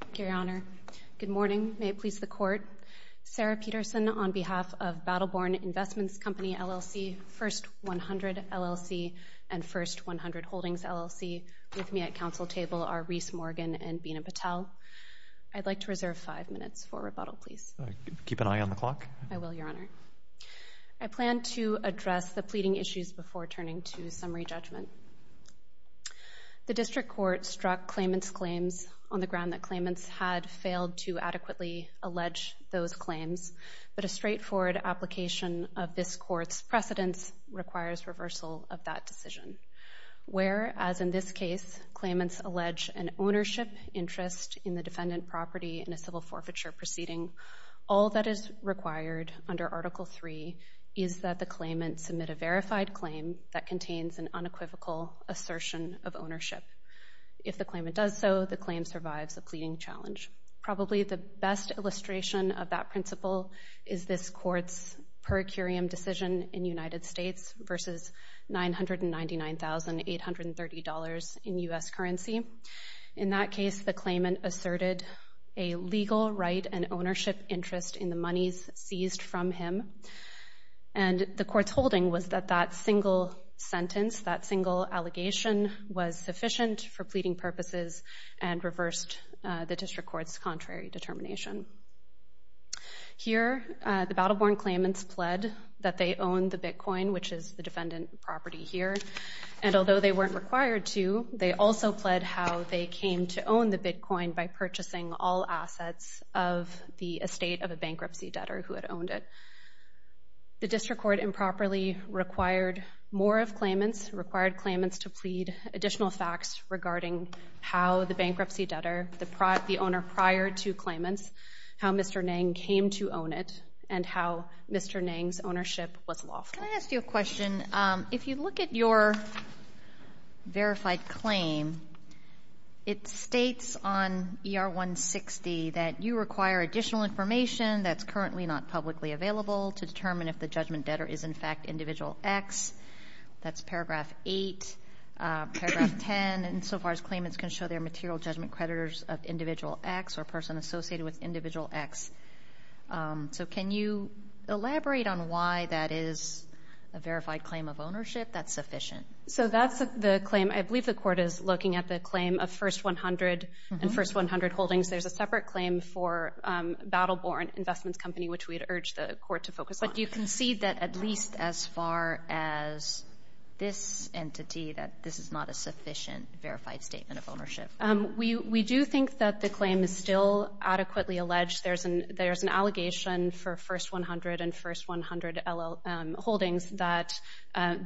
Thank you, Your Honor. Good morning. May it please the Court. Sarah Peterson on behalf of Battle Born Investments Company, LLC, First 100, LLC, and First 100 Holdings, LLC. With me at council table are Rhys Morgan and Bina Patel. I'd like to reserve five minutes for rebuttal, please. Keep an eye on the clock. I will, Your Honor. I plan to address the pleading issues before turning to summary judgment. The district court struck claimant's claims on the ground that claimants had failed to adequately allege those claims, but a straightforward application of this court's precedents requires reversal of that decision. Where, as in this case, claimants allege an ownership interest in the defendant property in a civil forfeiture proceeding, all that is required under Article III is that the assertion of ownership. If the claimant does so, the claim survives a pleading challenge. Probably the best illustration of that principle is this court's per curiam decision in United States versus $999,830 in U.S. currency. In that case, the claimant asserted a legal right and ownership interest in the monies seized from him. And the court's holding was that that single sentence, that single allegation, was sufficient for pleading purposes and reversed the district court's contrary determination. Here, the Battle Born claimants pled that they owned the Bitcoin, which is the defendant property here, and although they weren't required to, they also pled how they came to own the The district court improperly required more of claimants, required claimants to plead additional facts regarding how the bankruptcy debtor, the owner prior to claimants, how Mr. Nang came to own it, and how Mr. Nang's ownership was lawful. Can I ask you a question? If you look at your verified claim, it states on ER-160 that you require additional information that's currently not publicly available to determine if the judgment debtor is, in fact, individual X. That's paragraph 8, paragraph 10, and so far as claimants can show their material judgment creditors of individual X or person associated with individual X. So can you elaborate on why that is a verified claim of ownership that's sufficient? So that's the claim. I believe the court is looking at the claim of first 100 and first 100 holdings. There's a separate claim for Battle Born Investments Company, which we had urged the court to focus on. But you can see that at least as far as this entity, that this is not a sufficient verified statement of ownership. We do think that the claim is still adequately alleged. There's an allegation for first 100 and first 100 holdings that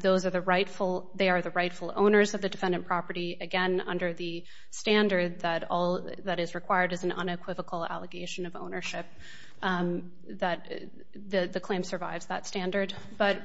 those are the rightful, they are the rightful owners of the defendant property, again, under the standard that all that is required is an unequivocal allegation of ownership. The claim survives that standard. But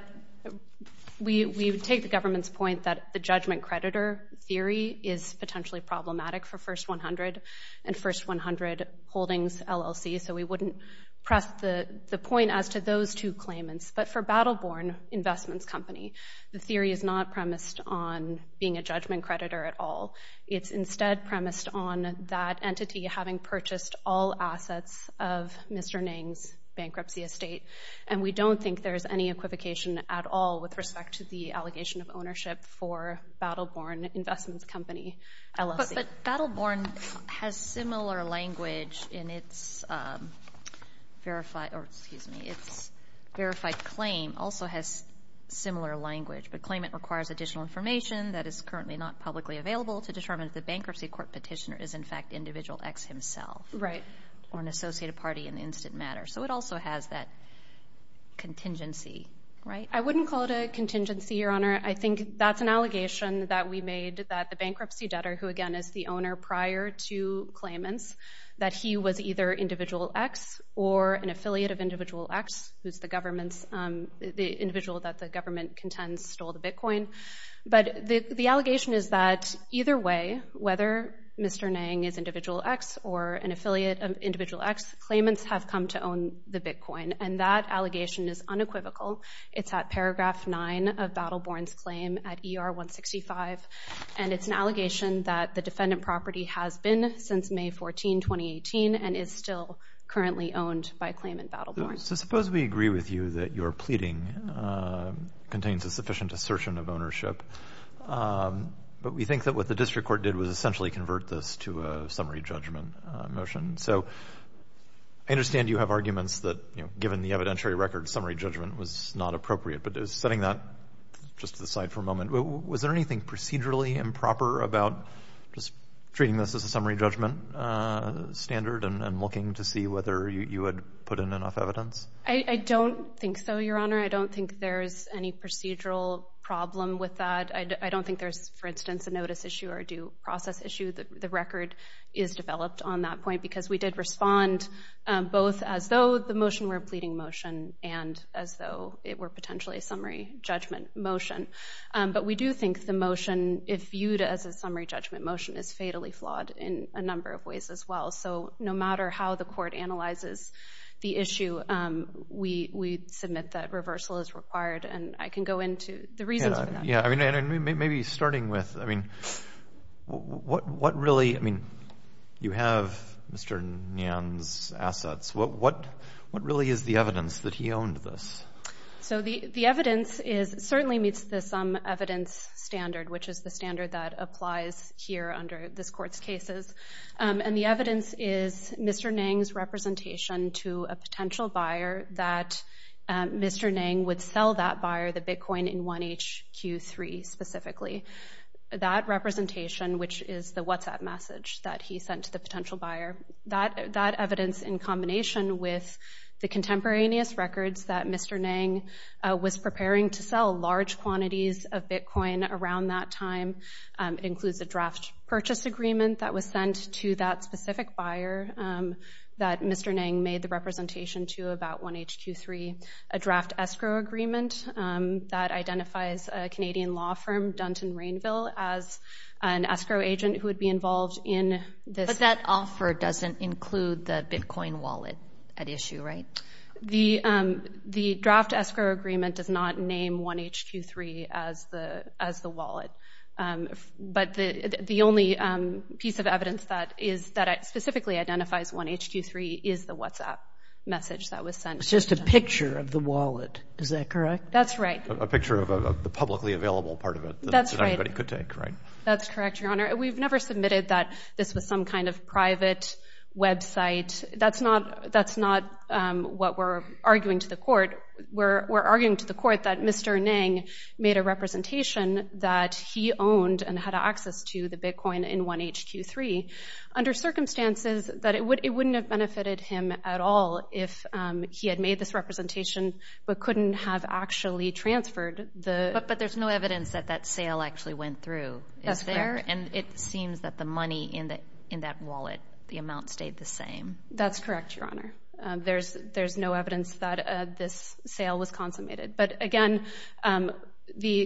we take the government's point that the judgment creditor theory is potentially problematic for first 100 and first 100 holdings LLC, so we wouldn't press the point as to those two claimants. But for Battle Born Investments Company, the theory is not premised on being a judgment creditor at all. It's instead premised on that entity having purchased all assets of Mr. Nang's bankruptcy estate. And we don't think there's any equivocation at all with respect to the allegation of ownership for Battle Born Investments Company LLC. But Battle Born has similar language in its verified, or excuse me, its verified claim also has similar language. But claimant requires additional information that is currently not publicly available to determine if the bankruptcy court petitioner is in fact Individual X himself. Right. Or an associated party in the instant matter. So it also has that contingency, right? I wouldn't call it a contingency, Your Honor. I think that's an allegation that we made that the bankruptcy debtor, who again is the owner prior to claimants, that he was either Individual X or an affiliate of Individual X, who's the individual that the government contends stole the Bitcoin. But the allegation is that either way, whether Mr. Nang is Individual X or an affiliate of Individual X, claimants have come to own the Bitcoin. And that allegation is unequivocal. It's at paragraph nine of Battle Born's claim at ER 165. And it's an allegation that the defendant property has been since May 14, 2018 and is still currently owned by claimant Battle Born. So suppose we agree with you that your pleading contains a sufficient assertion of ownership. But we think that what the district court did was essentially convert this to a summary judgment motion. So I understand you have arguments that, you know, given the evidentiary record, summary judgment was not appropriate. But setting that just to the side for a moment, was there anything procedurally improper about just treating this as a summary judgment standard and looking to see whether you had put in enough evidence? I don't think so, Your Honor. I don't think there's any procedural problem with that. I don't think there's, for instance, a notice issue or a due process issue. The record is developed on that point because we did respond both as though the motion were a pleading motion and as though it were potentially a summary judgment motion. But we do think the motion, if viewed as a summary judgment motion, is fatally flawed in a number of ways as well. So no matter how the court analyzes the issue, we submit that reversal is required. And I can go into the reasons for that. Yeah, I mean, maybe starting with, I mean, what really, I mean, you have Mr. Nguyen's assets. What really is the evidence that he owned this? So the evidence is, certainly meets the sum evidence standard, which is the standard that applies here under this Court's cases. And the evidence is Mr. Nguyen's representation to a potential buyer that Mr. Nguyen would sell that buyer the bitcoin in 1HQ3 specifically. That representation, which is the WhatsApp message that he sent to the potential buyer, that evidence in combination with the contemporaneous records that Mr. Nguyen was preparing to sell large quantities of bitcoin around that time includes a draft purchase agreement that was sent to that specific buyer that Mr. Nguyen made the representation to about 1HQ3, a draft escrow agreement that identifies a Canadian law firm, Dunton Rainville, as an escrow agent who would be involved in this. That offer doesn't include the bitcoin wallet at issue, right? The draft escrow agreement does not name 1HQ3 as the wallet. But the only piece of evidence that specifically identifies 1HQ3 is the WhatsApp message that was sent. It's just a picture of the wallet. Is that correct? That's right. A picture of the publicly available part of it. That everybody could take, right? That's correct, Your Honor. We've never submitted that this was some kind of private website. That's not what we're arguing to the court. We're arguing to the court that Mr. Nguyen made a representation that he owned and had access to the bitcoin in 1HQ3 under circumstances that it wouldn't have benefited him at all if he had made this representation but couldn't have actually transferred the... But there's no evidence that that sale actually went through. That's correct. Is there? And it seems that the money in that wallet, the amount stayed the same. That's correct, Your Honor. There's no evidence that this sale was consummated. But again, the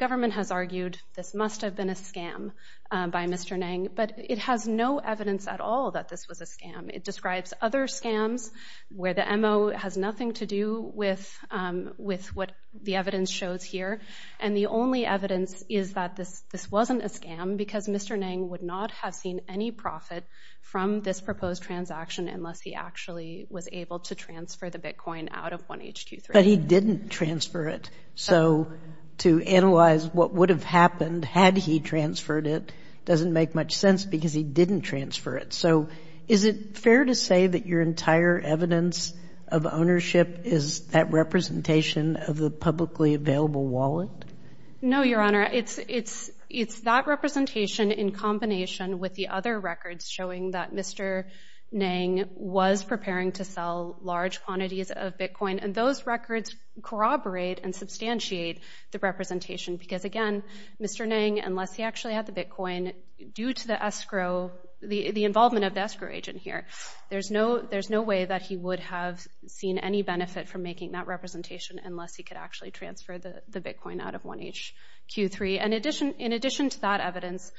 government has argued this must have been a scam by Mr. Nguyen. But it has no evidence at all that this was a scam. It describes other scams where the MO has nothing to do with what the evidence shows here. And the only evidence is that this wasn't a scam because Mr. Nguyen would not have seen any profit from this proposed transaction unless he actually was able to transfer the bitcoin out of 1HQ3. But he didn't transfer it. So to analyze what would have happened had he transferred it doesn't make much sense because he didn't transfer it. So is it fair to say that your entire evidence of ownership is that representation of the publicly available wallet? No, Your Honor. It's that representation in combination with the other records showing that Mr. Nguyen was preparing to sell large quantities of bitcoin. And those records corroborate and substantiate the representation because, again, Mr. Nguyen, unless he actually had the bitcoin, due to the involvement of the escrow agent here, there's no way that he would have seen any benefit from making that representation unless he could actually transfer the bitcoin out of 1HQ3. In addition to that evidence,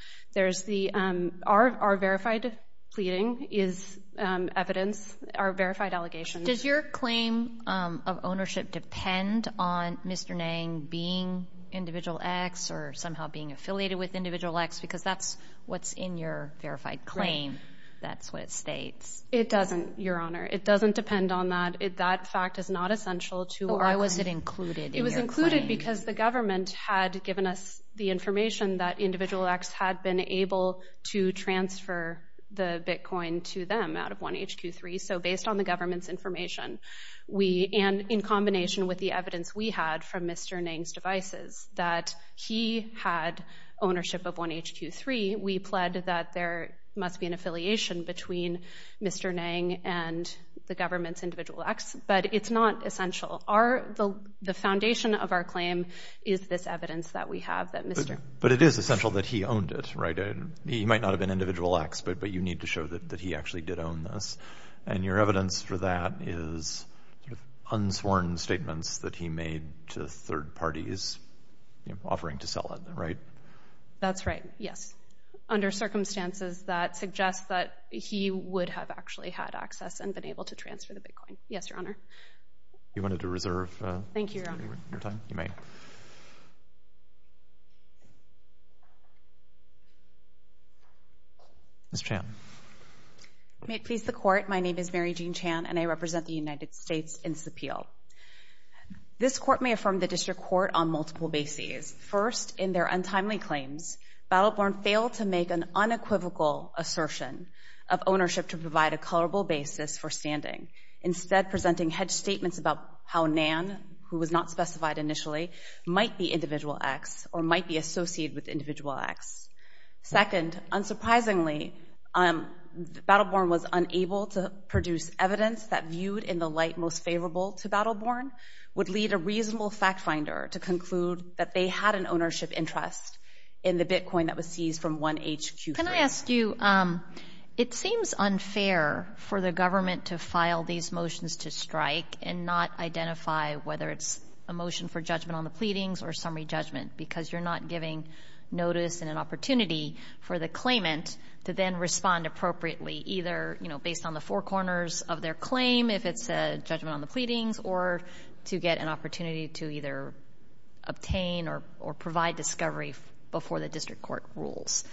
our verified pleading is evidence, our verified allegations. Does your claim of ownership depend on Mr. Nguyen being Individual X or somehow being affiliated with Individual X because that's what's in your verified claim? That's what it states. It doesn't, Your Honor. It doesn't depend on that. That fact is not essential to our claim. Why was it included in your claim? It was included because the government had given us the information that Individual X had been able to transfer the bitcoin to them out of 1HQ3. So based on the government's information, and in combination with the evidence we had from Mr. Nguyen's devices that he had ownership of 1HQ3, we pled that there must be an affiliation between Mr. Nguyen and the government's Individual X. But it's not essential. The foundation of our claim is this evidence that we have that Mr. Nguyen But it is essential that he owned it, right? He might not have been Individual X, but you need to show that he actually did own this. And your evidence for that is unsworn statements that he made to third parties offering to sell it, right? That's right, yes. Under circumstances that suggest that he would have actually had access and been able to transfer the bitcoin. Yes, Your Honor. You wanted to reserve your time? Thank you, Your Honor. You may. Ms. Chan. May it please the Court, my name is Mary Jean Chan, and I represent the United States in Sapil. This Court may affirm the District Court on multiple bases. First, in their untimely claims, Battleborn failed to make an unequivocal assertion of ownership to provide a colorable basis for standing, instead presenting hedged statements about how Nan, who was not specified initially, might be Individual X or might be associated with Individual X. Second, unsurprisingly, Battleborn was unable to produce evidence that viewed in the light most favorable to Battleborn would lead a reasonable fact finder to conclude that they had an ownership interest in the bitcoin that was seized from 1HQ3. Can I ask you, it seems unfair for the government to file these motions to strike and not identify whether it's a motion for judgment on the pleadings or summary judgment because you're not giving notice and an opportunity for the claimant to then respond appropriately, either based on the four corners of their claim, if it's a judgment on the pleadings, or to get an opportunity to either obtain or provide discovery before the District Court rules.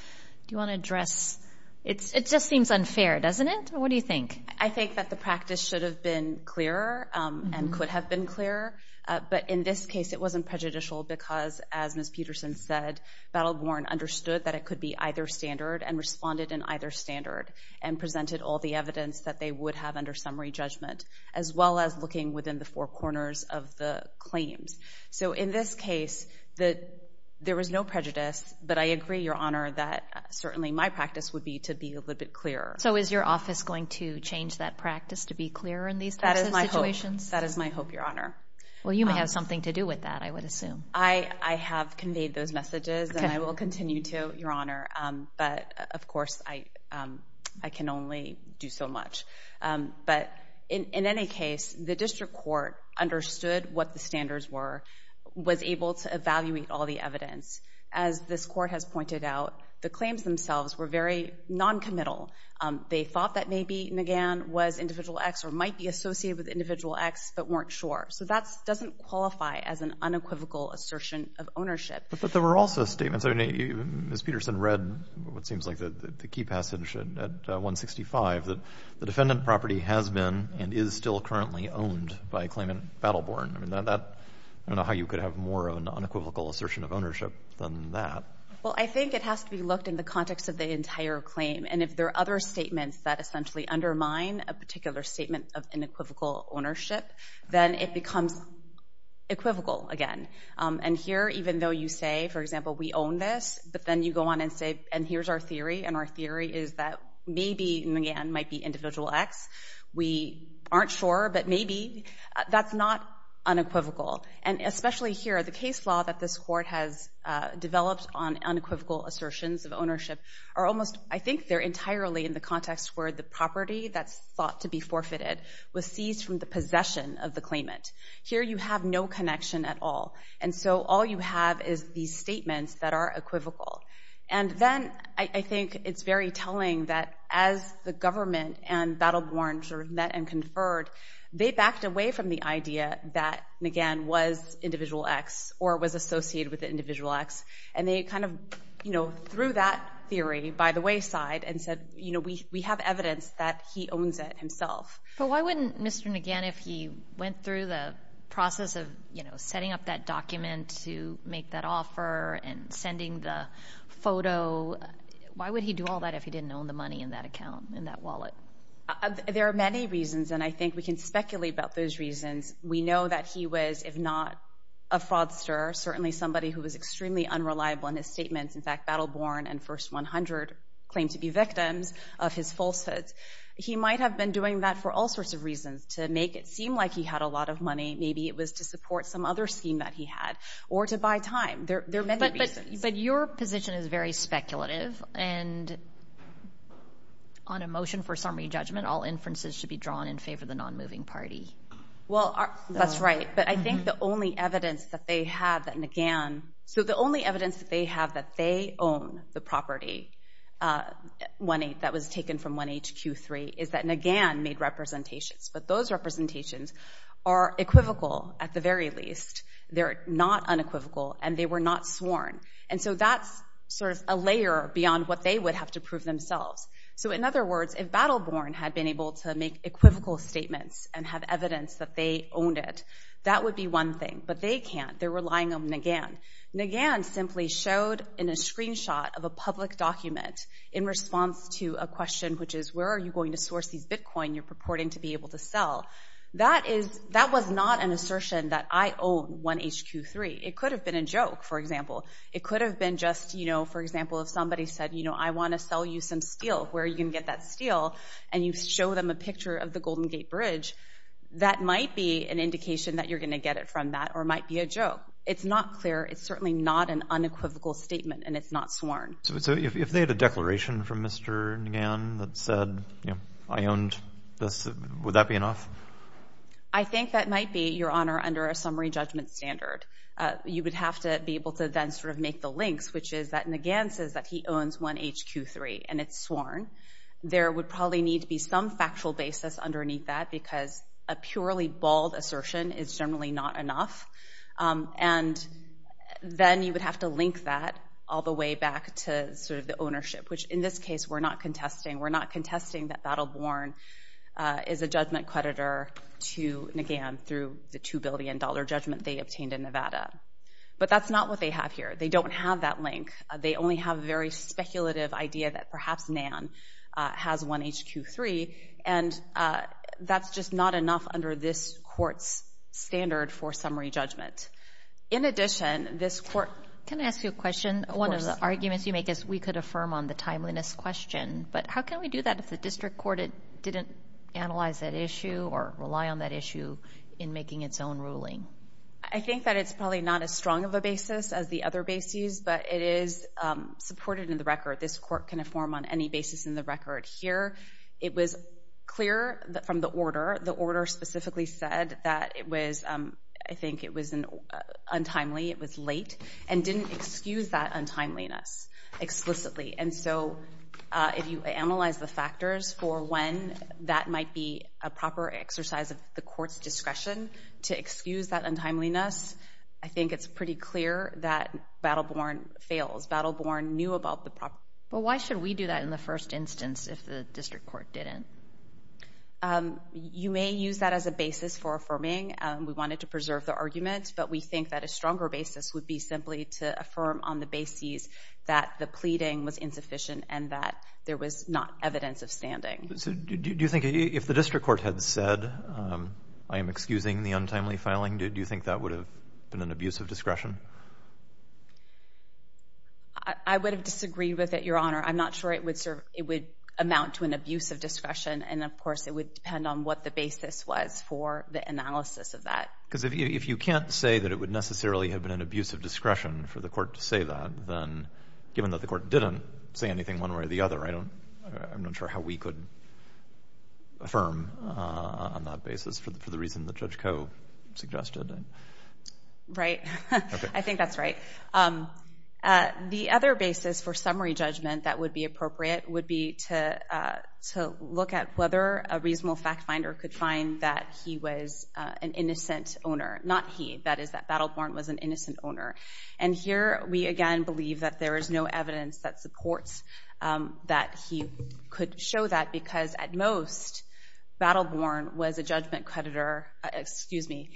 Do you want to address? It just seems unfair, doesn't it? What do you think? I think that the practice should have been clearer and could have been clearer, but in this case it wasn't prejudicial because, as Ms. Peterson said, Battleborn understood that it could be either standard and responded in either standard and presented all the evidence that they would have under summary judgment, as well as looking within the four corners of the claims. So in this case, there was no prejudice, but I agree, Your Honor, that certainly my practice would be to be a little bit clearer. So is your office going to change that practice to be clearer in these types of situations? That is my hope, Your Honor. Well, you may have something to do with that, I would assume. I have conveyed those messages and I will continue to, Your Honor, but of course I can only do so much. But in any case, the District Court understood what the standards were, was able to evaluate all the evidence. As this Court has pointed out, the claims themselves were very noncommittal. They thought that maybe McGann was Individual X or might be associated with Individual X but weren't sure. So that doesn't qualify as an unequivocal assertion of ownership. But there were also statements. I mean, Ms. Peterson read what seems like the key passage at 165, that the defendant property has been and is still currently owned by a claimant, Battleborn. I mean, I don't know how you could have more of an unequivocal assertion of ownership than that. Well, I think it has to be looked in the context of the entire claim. And if there are other statements that essentially undermine a particular statement of unequivocal ownership, then it becomes equivocal again. And here, even though you say, for example, we own this, but then you go on and say, and here's our theory, and our theory is that maybe McGann might be Individual X. We aren't sure, but maybe. That's not unequivocal. And especially here, the case law that this Court has developed on unequivocal assertions of ownership are almost, I think they're entirely in the context where the property that's thought to be forfeited was seized from the possession of the claimant. Here you have no connection at all. And so all you have is these statements that are equivocal. And then I think it's very telling that as the government and Battleborn met and conferred, they backed away from the idea that McGann was Individual X or was associated with Individual X. And they kind of, you know, threw that theory by the wayside and said, you know, we have evidence that he owns it himself. But why wouldn't Mr. McGann, if he went through the process of, you know, setting up that document to make that offer and sending the photo, why would he do all that if he didn't own the money in that account, in that wallet? There are many reasons, and I think we can speculate about those reasons. We know that he was, if not a fraudster, certainly somebody who was extremely unreliable in his statements. In fact, Battleborn and First 100 claim to be victims of his falsehoods. He might have been doing that for all sorts of reasons to make it seem like he had a lot of money. Maybe it was to support some other scheme that he had or to buy time. There are many reasons. But your position is very speculative, and on a motion for summary judgment, all inferences should be drawn in favor of the nonmoving party. Well, that's right. But I think the only evidence that they have that McGann, so the only evidence that they have that they own the property that was taken from 1HQ3 is that McGann made representations. But those representations are equivocal, at the very least. They're not unequivocal, and they were not sworn. And so that's sort of a layer beyond what they would have to prove themselves. So, in other words, if Battleborn had been able to make equivocal statements and have evidence that they owned it, that would be one thing. But they can't. They're relying on McGann. McGann simply showed in a screenshot of a public document in response to a question, which is, where are you going to source these Bitcoin you're purporting to be able to sell? That was not an assertion that I own 1HQ3. It could have been a joke, for example. It could have been just, you know, for example, if somebody said, you know, I want to sell you some steel, where are you going to get that steel? And you show them a picture of the Golden Gate Bridge, that might be an indication that you're going to get it from that or might be a joke. It's not clear. It's certainly not an unequivocal statement, and it's not sworn. So if they had a declaration from Mr. McGann that said, you know, I owned this, would that be enough? I think that might be, Your Honor, under a summary judgment standard. You would have to be able to then sort of make the links, which is that McGann says that he owns 1HQ3 and it's sworn. There would probably need to be some factual basis underneath that because a purely bald assertion is generally not enough. And then you would have to link that all the way back to sort of the ownership, which in this case we're not contesting. We're not contesting that Battleborn is a judgment creditor to McGann through the $2 billion judgment they obtained in Nevada. But that's not what they have here. They don't have that link. They only have a very speculative idea that perhaps Nann has 1HQ3, and that's just not enough under this court's standard for summary judgment. In addition, this court— Can I ask you a question? Of course. One of the arguments you make is we could affirm on the timeliness question, but how can we do that if the district court didn't analyze that issue or rely on that issue in making its own ruling? I think that it's probably not as strong of a basis as the other bases, but it is supported in the record. This court can affirm on any basis in the record. Here it was clear from the order. The order specifically said that it was—I think it was untimely, it was late, and didn't excuse that untimeliness explicitly. And so if you analyze the factors for when that might be a proper exercise of the court's discretion to excuse that untimeliness, I think it's pretty clear that Battle Born fails. Battle Born knew about the proper— But why should we do that in the first instance if the district court didn't? You may use that as a basis for affirming. We wanted to preserve the argument, but we think that a stronger basis would be simply to affirm on the basis that the pleading was insufficient and that there was not evidence of standing. Do you think if the district court had said, I am excusing the untimely filing, do you think that would have been an abuse of discretion? I would have disagreed with it, Your Honor. I'm not sure it would amount to an abuse of discretion. And, of course, it would depend on what the basis was for the analysis of that. Because if you can't say that it would necessarily have been an abuse of discretion for the court to say that, then given that the court didn't say anything one way or the other, I'm not sure how we could affirm on that basis for the reason that Judge Coe suggested. Right. I think that's right. The other basis for summary judgment that would be appropriate would be to look at whether a reasonable fact finder could find that he was an innocent owner. Not he. That is that Battleborn was an innocent owner. And here we, again, believe that there is no evidence that supports that he could show that because at most Battleborn was a judgment creditor. Excuse me.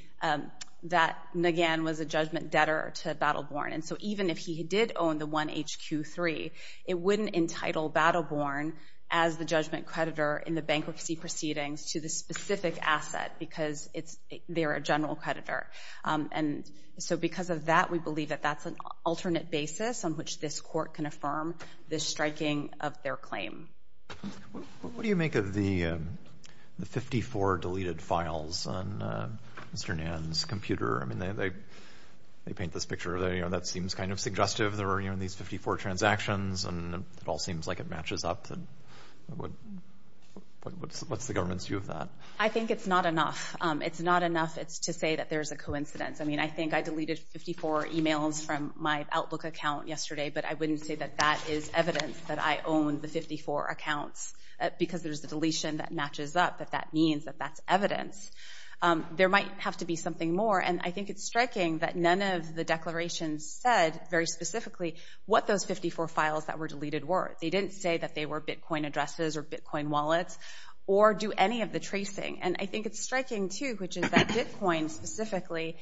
That, again, was a judgment debtor to Battleborn. And so even if he did own the 1HQ3, it wouldn't entitle Battleborn as the judgment creditor in the bankruptcy proceedings to the specific asset because they're a general creditor. And so because of that, we believe that that's an alternate basis on which this court can affirm the striking of their claim. What do you make of the 54 deleted files on Mr. Nann's computer? I mean, they paint this picture that seems kind of suggestive. There are these 54 transactions, and it all seems like it matches up. What's the government's view of that? I think it's not enough. It's not enough to say that there's a coincidence. I mean, I think I deleted 54 e-mails from my Outlook account yesterday, but I wouldn't say that that is evidence that I own the 54 accounts because there's a deletion that matches up, that that means that that's evidence. There might have to be something more, and I think it's striking that none of the declarations said very specifically what those 54 files that were deleted were. They didn't say that they were Bitcoin addresses or Bitcoin wallets or do any of the tracing. And I think it's striking, too, which is that Bitcoin specifically,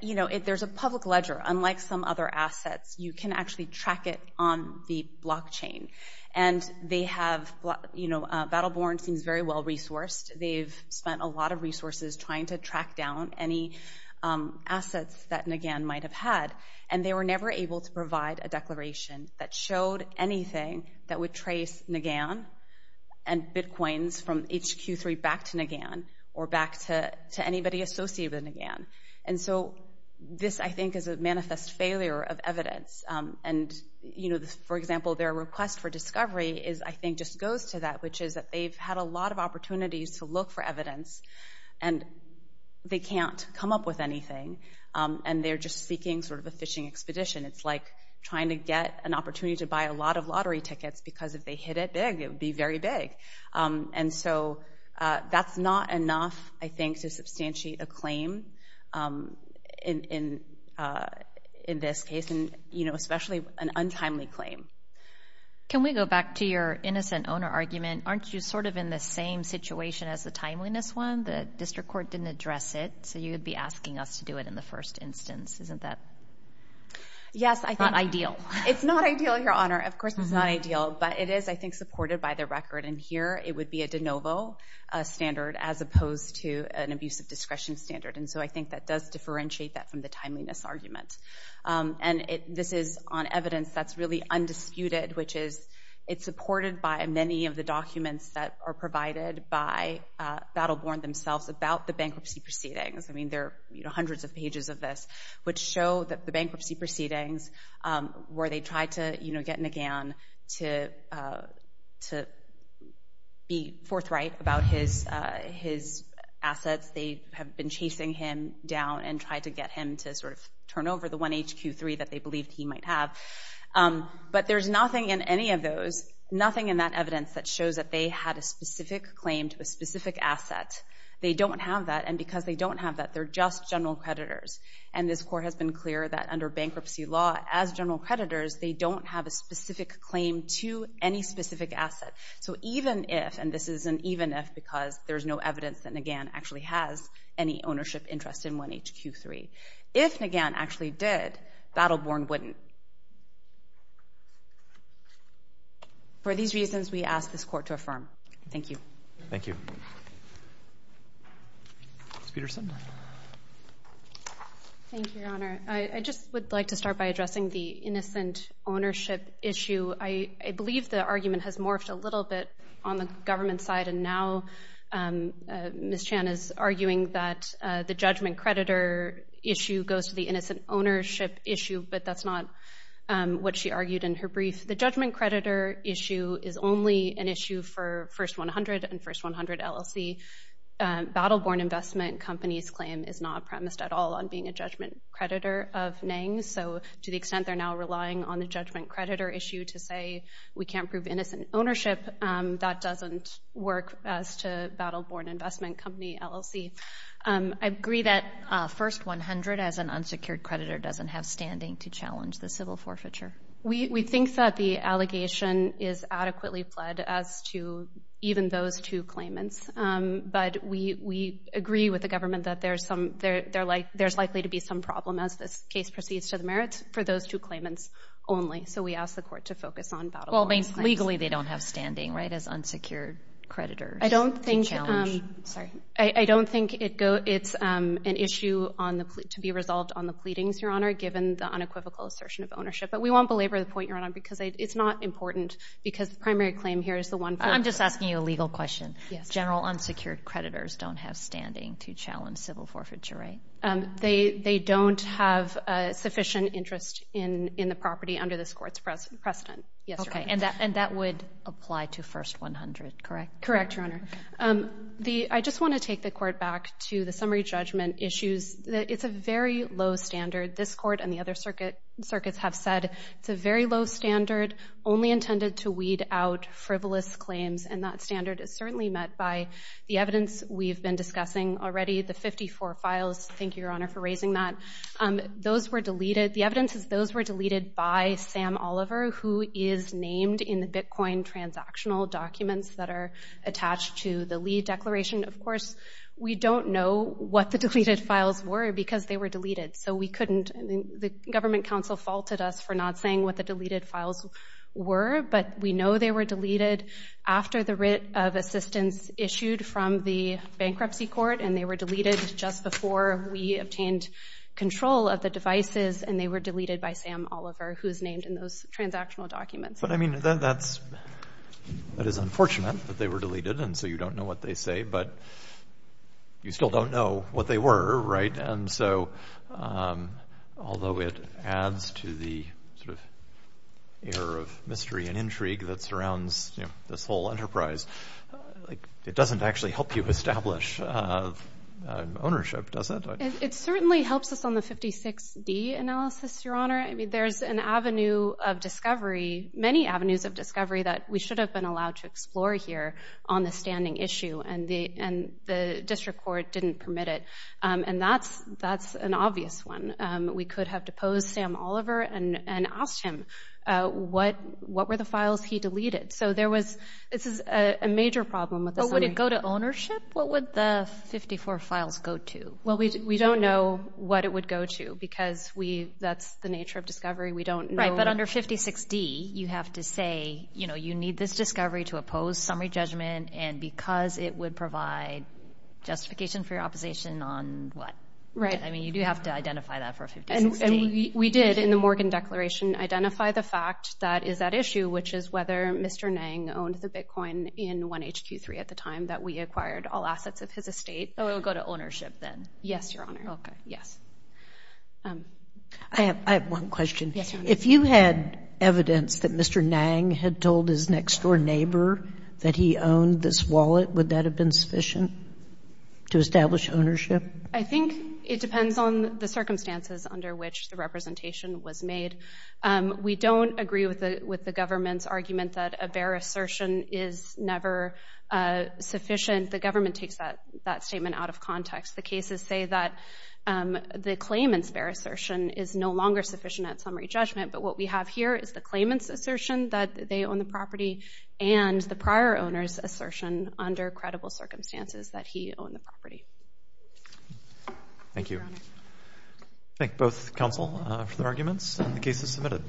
you know, there's a public ledger. Unlike some other assets, you can actually track it on the blockchain. And they have, you know, Battleborn seems very well resourced. They've spent a lot of resources trying to track down any assets that Naghan might have had, and they were never able to provide a declaration that showed anything that would trace Naghan and Bitcoins from HQ3 back to Naghan or back to anybody associated with Naghan. And so this, I think, is a manifest failure of evidence. And, you know, for example, their request for discovery, I think, just goes to that, which is that they've had a lot of opportunities to look for evidence, and they can't come up with anything, and they're just seeking sort of a fishing expedition. It's like trying to get an opportunity to buy a lot of lottery tickets because if they hit it big, it would be very big. And so that's not enough, I think, to substantiate a claim in this case, and, you know, especially an untimely claim. Can we go back to your innocent owner argument? Aren't you sort of in the same situation as the timeliness one? The district court didn't address it, so you'd be asking us to do it in the first instance. Isn't that not ideal? It's not ideal, Your Honor. Of course it's not ideal, but it is, I think, supported by the record. And here it would be a de novo standard as opposed to an abusive discretion standard. And so I think that does differentiate that from the timeliness argument. And this is on evidence that's really undisputed, which is it's supported by many of the documents that are provided by Battle Born themselves about the bankruptcy proceedings. I mean, there are hundreds of pages of this which show that the bankruptcy proceedings where they tried to get Naghan to be forthright about his assets, they have been chasing him down and tried to get him to sort of turn over the one HQ3 that they believed he might have. But there's nothing in any of those, nothing in that evidence that shows that they had a specific claim to a specific asset. They don't have that, and because they don't have that, they're just general creditors. And this court has been clear that under bankruptcy law, as general creditors, they don't have a specific claim to any specific asset. So even if, and this is an even if because there's no evidence that Naghan actually has any ownership interest in one HQ3. If Naghan actually did, Battle Born wouldn't. For these reasons, we ask this court to affirm. Thank you. Thank you. Ms. Peterson. Thank you, Your Honor. I just would like to start by addressing the innocent ownership issue. I believe the argument has morphed a little bit on the government side, and now Ms. Chan is arguing that the judgment creditor issue goes to the innocent ownership issue, but that's not what she argued in her brief. The judgment creditor issue is only an issue for First 100 and First 100 LLC. Battle Born Investment Company's claim is not premised at all on being a judgment creditor of NANG. So to the extent they're now relying on the judgment creditor issue to say we can't prove innocent ownership, that doesn't work as to Battle Born Investment Company LLC. I agree that First 100, as an unsecured creditor, doesn't have standing to challenge the civil forfeiture. We think that the allegation is adequately fled as to even those two claimants, but we agree with the government that there's likely to be some problem, as this case proceeds to the merits, for those two claimants only. Well, legally they don't have standing, right, as unsecured creditors to challenge. I don't think it's an issue to be resolved on the pleadings, Your Honor, given the unequivocal assertion of ownership, but we won't belabor the point, Your Honor, because it's not important because the primary claim here is the one point. I'm just asking you a legal question. General unsecured creditors don't have standing to challenge civil forfeiture, right? They don't have sufficient interest in the property under this court's precedent. Yes, Your Honor. And that would apply to First 100, correct? Correct, Your Honor. I just want to take the court back to the summary judgment issues. It's a very low standard. This court and the other circuits have said it's a very low standard, only intended to weed out frivolous claims, and that standard is certainly met by the evidence we've been discussing already, the 54 files. Thank you, Your Honor, for raising that. The evidence is those were deleted by Sam Oliver, who is named in the Bitcoin transactional documents that are attached to the Lee declaration. Of course, we don't know what the deleted files were because they were deleted, so we couldn't. The government counsel faulted us for not saying what the deleted files were, but we know they were deleted after the writ of assistance issued from the bankruptcy court, and they were deleted just before we obtained control of the devices, and they were deleted by Sam Oliver, who is named in those transactional documents. But, I mean, that is unfortunate that they were deleted, and so you don't know what they say, but you still don't know what they were, right? And so although it adds to the sort of air of mystery and intrigue that surrounds this whole enterprise, it doesn't actually help you establish ownership, does it? It certainly helps us on the 56D analysis, Your Honor. I mean, there's an avenue of discovery, many avenues of discovery, that we should have been allowed to explore here on the standing issue, and the district court didn't permit it, and that's an obvious one. We could have deposed Sam Oliver and asked him what were the files he deleted. So this is a major problem with the summary. But would it go to ownership? What would the 54 files go to? Well, we don't know what it would go to because that's the nature of discovery. We don't know. Right, but under 56D, you have to say, you know, you need this discovery to oppose summary judgment, and because it would provide justification for your opposition on what? Right. I mean, you do have to identify that for 56D. And we did in the Morgan Declaration identify the fact that is that issue, which is whether Mr. Nang owned the bitcoin in 1HQ3 at the time that we acquired all assets of his estate. So it would go to ownership then? Yes, Your Honor. Okay. I have one question. Yes, Your Honor. If you had evidence that Mr. Nang had told his next-door neighbor that he owned this wallet, would that have been sufficient to establish ownership? I think it depends on the circumstances under which the representation was made. We don't agree with the government's argument that a bare assertion is never sufficient. The government takes that statement out of context. The cases say that the claimant's bare assertion is no longer sufficient at summary judgment, but what we have here is the claimant's assertion that they own the property and the prior owner's assertion under credible circumstances that he owned the property. Thank you. Thank you, Your Honor. Thank both counsel for their arguments, and the case is submitted.